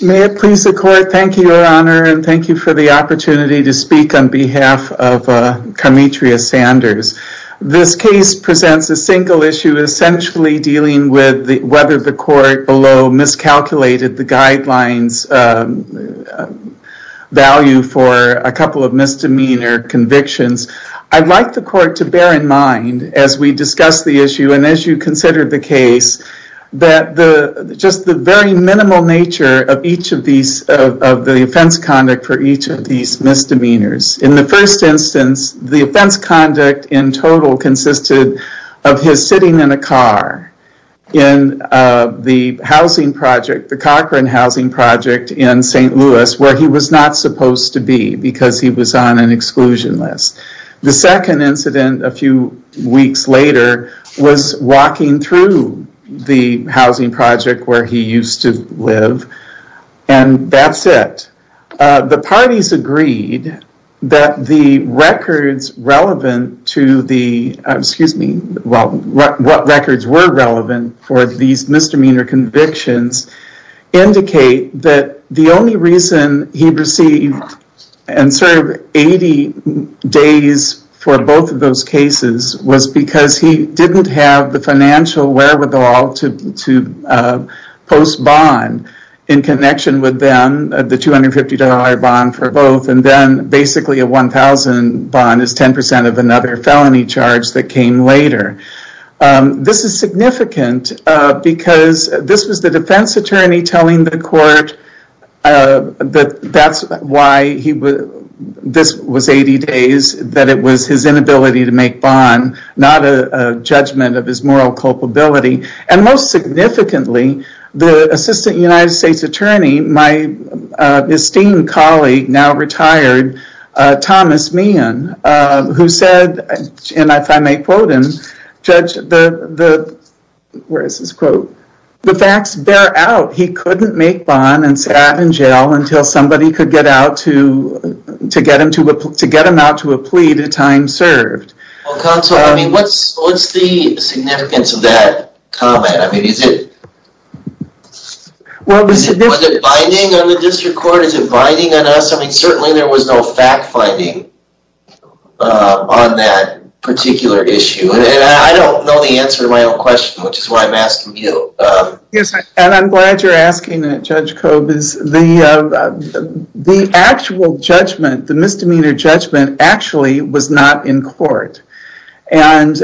May it please the court, thank you your honor and thank you for the opportunity to speak on behalf of Carmetrius Sanders. This case presents a single issue essentially dealing with whether the court below miscalculated the guidelines value for a couple of misdemeanor convictions. I'd like the court to bear in mind as we discuss the issue and as you consider the case that the just the very minimal nature of each of these of the offense conduct for each of these misdemeanors. In the first instance the offense conduct in total consisted of his sitting in a car in the housing project the Cochran housing project in St. Louis where he was not supposed to be because he was on an exclusion list. The second incident a few weeks later was walking through the housing project where he used to live and that's it. The parties agreed that the records were relevant for these misdemeanor convictions indicate that the only reason he received and served 80 days for both of those cases was because he didn't have the financial wherewithal to post bond in connection with them the $250 bond for both and then basically a $1,000 bond is 10% of another felony charge that came later. This is significant because this was the defense attorney telling the court that that's why he would this was 80 days that it was his inability to make bond not a judgment of his moral culpability and most significantly the assistant United States attorney my esteemed colleague now retired Thomas Meehan who said and if I may quote him judge the the where is this quote the facts bear out he couldn't make bond and sat in jail until somebody could get out to to get him to to get him out to a plea to time served. Well counsel I mean what's what's the significance of that comment I mean is it well was it binding on the district court is it binding on us I mean certainly there was no fact finding on that particular issue and I don't know the answer to my own question which is why I'm asking you. Yes and I'm glad you're asking that Judge Cobb is the the actual judgment the misdemeanor judgment actually was not in court and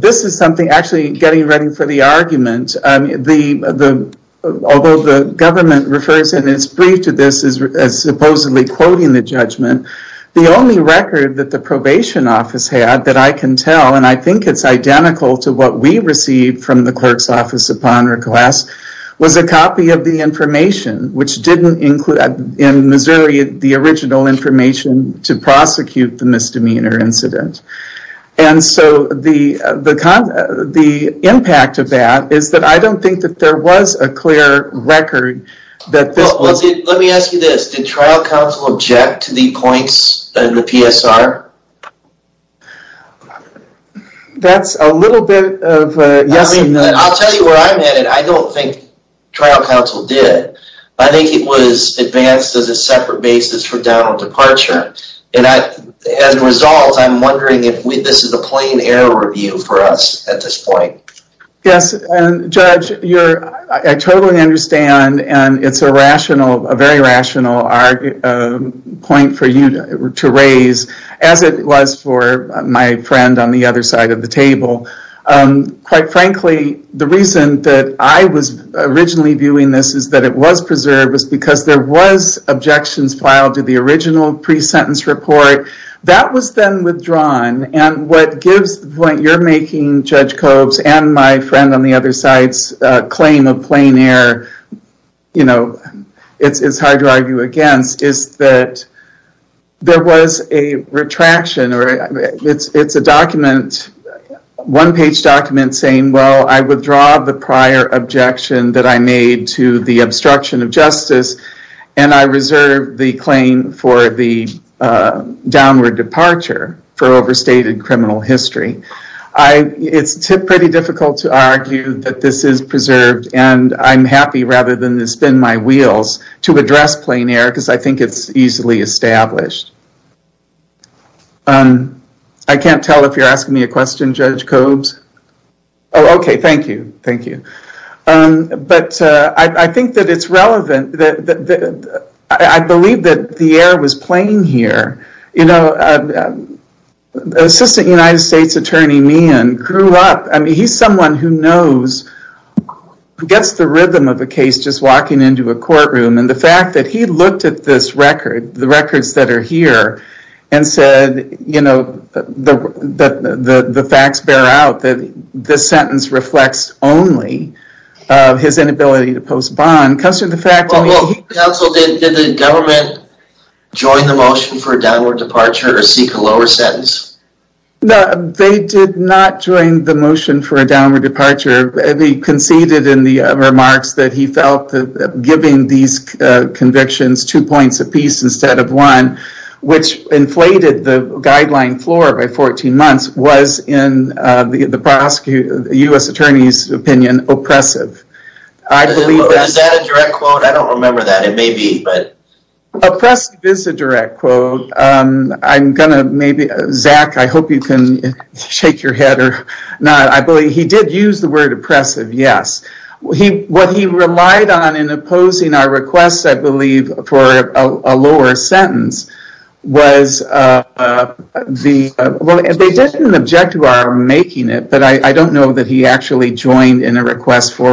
this is something actually getting ready for the argument the the although the government refers in its brief to this as supposedly quoting the judgment the only record that the probation office had that I can tell and I think it's identical to what we received from the clerk's office upon request was a copy of the information which didn't include in Missouri the original information to prosecute the misdemeanor incident and so the the the impact of that is that I don't think that there was a clear record that this was it. Let me ask you this did trial counsel object to the points in the PSR? That's a little bit of a yes. I'll tell you that this was advanced as a separate basis for down on departure and as a result I'm wondering if this is a plain error review for us at this point. Yes and Judge you're I totally understand and it's a rational a very rational point for you to raise as it was for my friend on the other side of the table. Quite frankly the reason that I was originally viewing this is that it was preserved was because there was objections filed to the original pre-sentence report that was then withdrawn and what gives the point you're making Judge Kobes and my friend on the other side's claim of plain error you know it's it's hard to argue against is that there was a retraction or it's it's a document one page document saying well I withdraw the prior objection that I made to the destruction of justice and I reserve the claim for the downward departure for overstated criminal history. It's pretty difficult to argue that this is preserved and I'm happy rather than to spin my wheels to address plain error because I think it's easily established. I can't tell it's relevant that I believe that the error was plain here you know the Assistant United States Attorney Meehan grew up I mean he's someone who knows who gets the rhythm of a case just walking into a courtroom and the fact that he looked at this record the records that are here and said you know that the the facts bear out that this sentence reflects only of his inability to post on comes to the fact that the government joined the motion for a downward departure or seek a lower sentence. No they did not join the motion for a downward departure and he conceded in the remarks that he felt that giving these convictions two points apiece instead of one which inflated the guideline floor by 14 months was in the prosecutor the U.S. Attorney's opinion oppressive. Is that a direct quote? I don't remember that it may be but oppressive is a direct quote I'm gonna maybe Zach I hope you can shake your head or not I believe he did use the word oppressive yes he what he relied on in opposing our requests I believe for a lower sentence was the well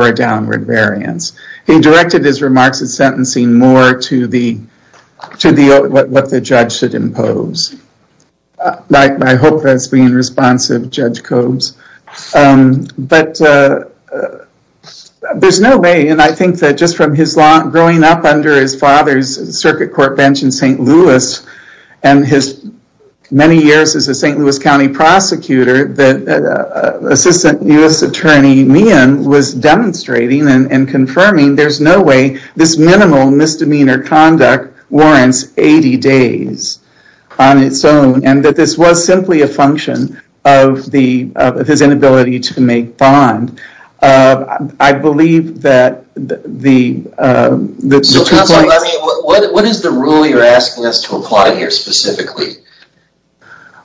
a downward variance. He directed his remarks at sentencing more to the to the what the judge should impose. I hope that's being responsive Judge Cobes but there's no way and I think that just from his long growing up under his father's circuit court bench in St. Louis and his many and confirming there's no way this minimal misdemeanor conduct warrants 80 days on its own and that this was simply a function of the of his inability to make bond. I believe that the what is the rule you're asking us to apply here specifically?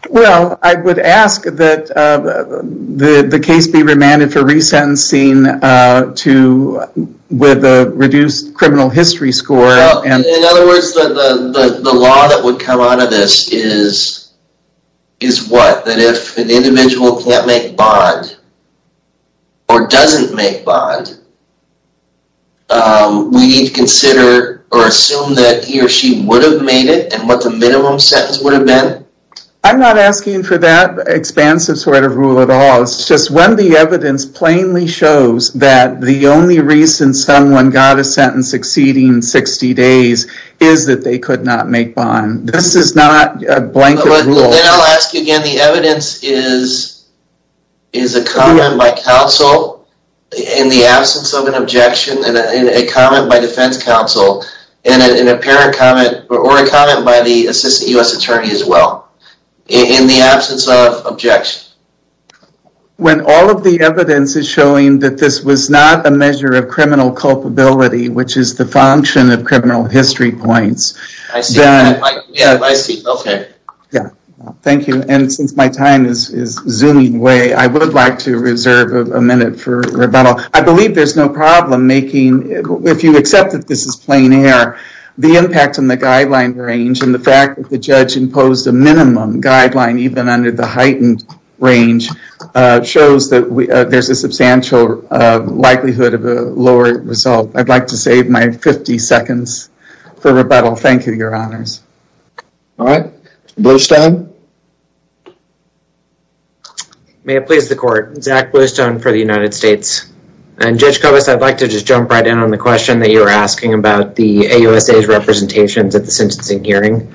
Well I would ask that the case be remanded for resentencing to with a reduced criminal history score and in other words the law that would come out of this is is what that if an individual can't make bond or doesn't make bond we need to consider or assume that he or she would have made it and minimum sentence would have been. I'm not asking for that expansive sort of rule at all it's just when the evidence plainly shows that the only reason someone got a sentence exceeding 60 days is that they could not make bond. This is not a blanket rule. Then I'll ask again the evidence is is a comment by counsel in the absence of an objection and a comment by defense counsel and an apparent comment or a comment by the assistant U.S. attorney as well in the absence of objection. When all of the evidence is showing that this was not a measure of criminal culpability which is the function of criminal history points. I see yeah I see okay yeah thank you and since my time is is zooming away I would like to reserve a minute for rebuttal. I believe there's no problem making if you accept that this is plain air the impact on the guideline range and the fact that the judge imposed a minimum guideline even under the heightened range shows that we there's a substantial likelihood of a lower result. I'd like to save my 50 seconds for rebuttal. Thank you your honors. All right Bluestone. May it please the court. Zach Bluestone for the United States and Judge Kovas I'd like to just jump right in on the question that you were asking about the AUSA's representations at the sentencing hearing.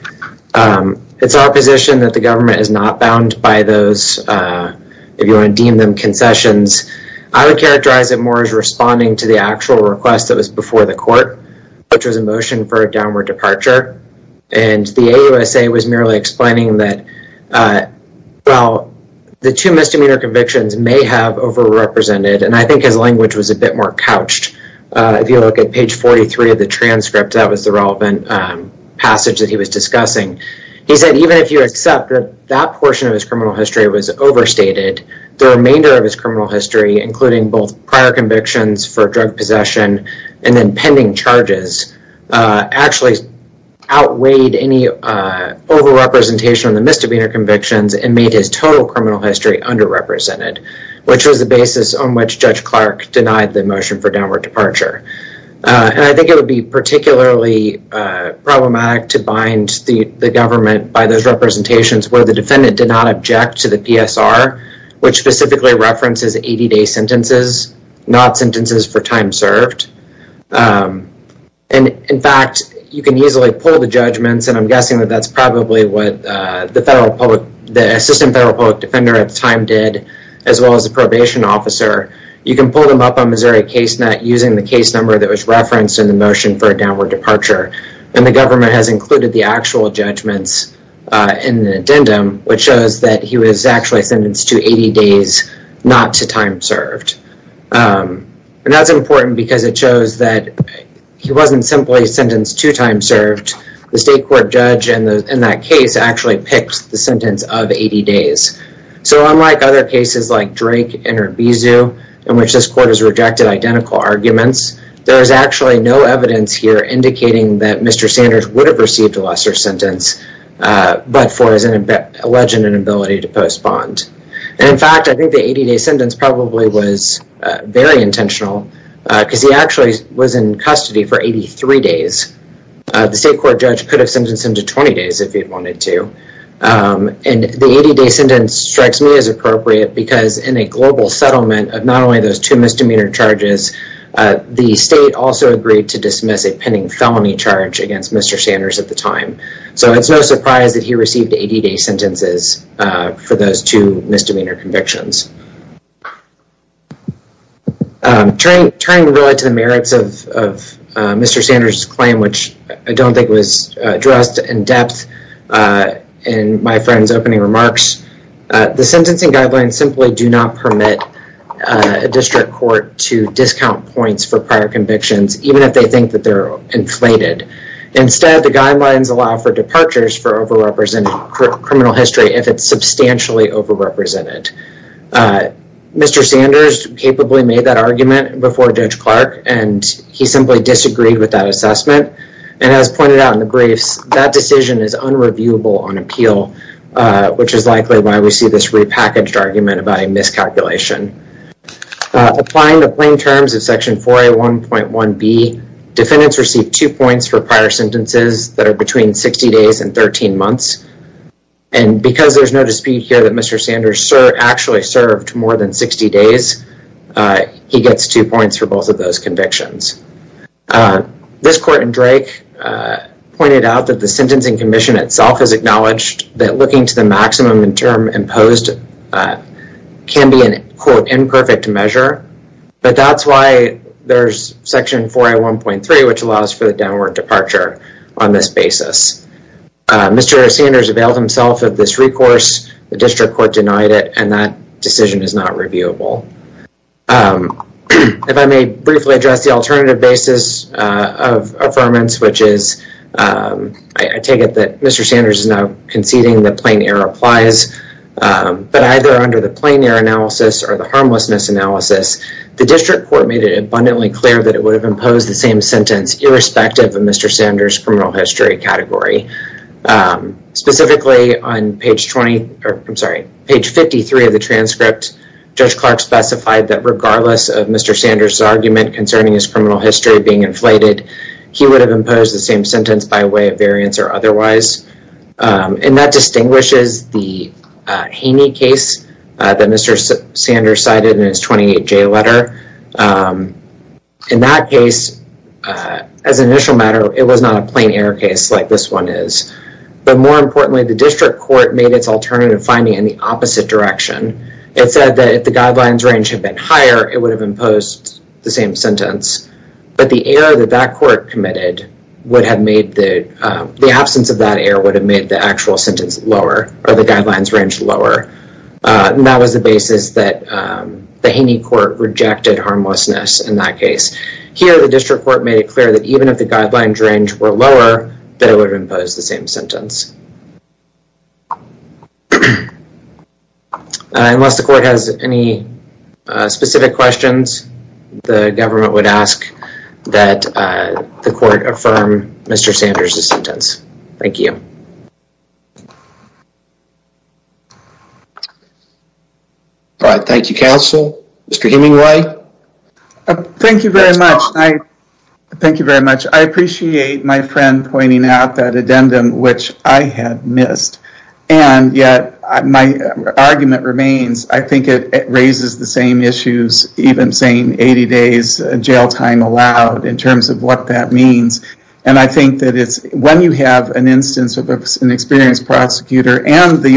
It's our position that the government is not bound by those if you want to deem them concessions. I would characterize it more as responding to the actual request that was before the court which was a motion for a downward departure and the AUSA was merely explaining that well the two misdemeanor convictions may have over-represented and I think his language was a bit more couched. If you look at page 43 of the transcript that was the relevant passage that he was discussing. He said even if you accept that portion of his criminal history was overstated the remainder of his criminal history including both prior convictions for drug possession and then pending charges actually outweighed any over-representation on the misdemeanor convictions and made his total criminal history under-represented which was the basis on which Judge Clark denied the motion for downward departure and I think it would be particularly problematic to bind the government by those representations where the defendant did not object to the PSR which specifically references 80-day sentences not sentences for time served and in fact you can easily pull the judgments and I'm did as well as a probation officer you can pull them up on Missouri case net using the case number that was referenced in the motion for a downward departure and the government has included the actual judgments in the addendum which shows that he was actually sentenced to 80 days not to time served and that's important because it shows that he wasn't simply sentenced to time served the state court judge and those in that case actually picked the sentence of 80 days so unlike other cases like Drake and Urbizu in which this court has rejected identical arguments there is actually no evidence here indicating that Mr. Sanders would have received a lesser sentence but for his alleged inability to postpone and in fact I think the 80-day sentence probably was very intentional because he actually was in custody for 83 days the state court judge could have sentenced him to 20 days if he wanted to and the 80-day sentence strikes me as appropriate because in a global settlement of not only those two misdemeanor charges the state also agreed to dismiss a pending felony charge against Mr. Sanders at the time so it's no surprise that received 80-day sentences for those two misdemeanor convictions. Turning really to the merits of Mr. Sanders' claim which I don't think was addressed in depth in my friend's opening remarks the sentencing guidelines simply do not permit a district court to discount points for prior convictions even if they think that they're inflated instead the criminal history if it's substantially over represented. Mr. Sanders capably made that argument before Judge Clark and he simply disagreed with that assessment and as pointed out in the briefs that decision is unreviewable on appeal which is likely why we see this repackaged argument about a miscalculation. Applying the plain terms of section 4A1.1b defendants receive two points for prior sentences that are between 60 days and 13 months and because there's no dispute here that Mr. Sanders actually served more than 60 days he gets two points for both of those convictions. This court in Drake pointed out that the sentencing commission itself has acknowledged that looking to the maximum in term imposed can be an quote imperfect measure but that's why there's section 4A1.3 which allows for the downward departure on this basis. Mr. Sanders availed himself of this recourse the district court denied it and that decision is not reviewable. If I may briefly address the alternative basis of affirmance which is I take it that Mr. Sanders is now conceding that plain error applies but either under the analysis the district court made it abundantly clear that it would have imposed the same sentence irrespective of Mr. Sanders criminal history category. Specifically on page 20 or I'm sorry page 53 of the transcript Judge Clark specified that regardless of Mr. Sanders argument concerning his criminal history being inflated he would have imposed the same sentence by way of variance or J letter. In that case as an initial matter it was not a plain error case like this one is but more importantly the district court made its alternative finding in the opposite direction. It said that if the guidelines range had been higher it would have imposed the same sentence but the error that that court committed would have made the absence of that error would have made the actual sentence lower or the guidelines range lower and that was the the Haney court rejected harmlessness in that case. Here the district court made it clear that even if the guidelines range were lower they would impose the same sentence. Unless the court has any specific questions the government would ask that the court affirm Mr. Sanders' sentence. Thank you. All right thank you counsel. Mr. Hemingway. Thank you very much. Thank you very much. I appreciate my friend pointing out that addendum which I had missed and yet my argument remains. I think it raises the same issues even saying 80 days jail time allowed in terms of what that means and I when you have an instance of an experienced prosecutor and the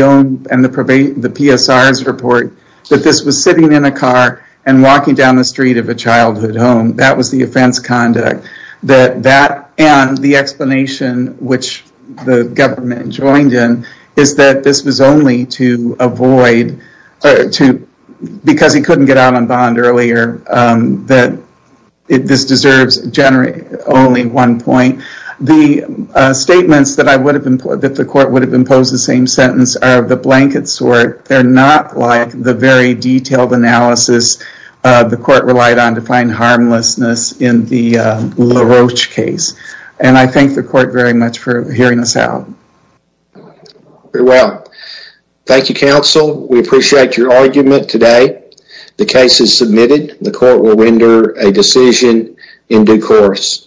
PSR's report that this was sitting in a car and walking down the street of a childhood home that was the offense conduct and the explanation which the government joined in is that this was only to avoid because he couldn't get out on bond earlier that this deserves only one point. The statements that the court would have imposed the same sentence are the blanket sort. They're not like the very detailed analysis the court relied on to find harmlessness in the LaRoche case and I thank the court very much for hearing us out. Very well. Thank you counsel. We appreciate your argument today. The case is submitted. The court will render a decision in due course.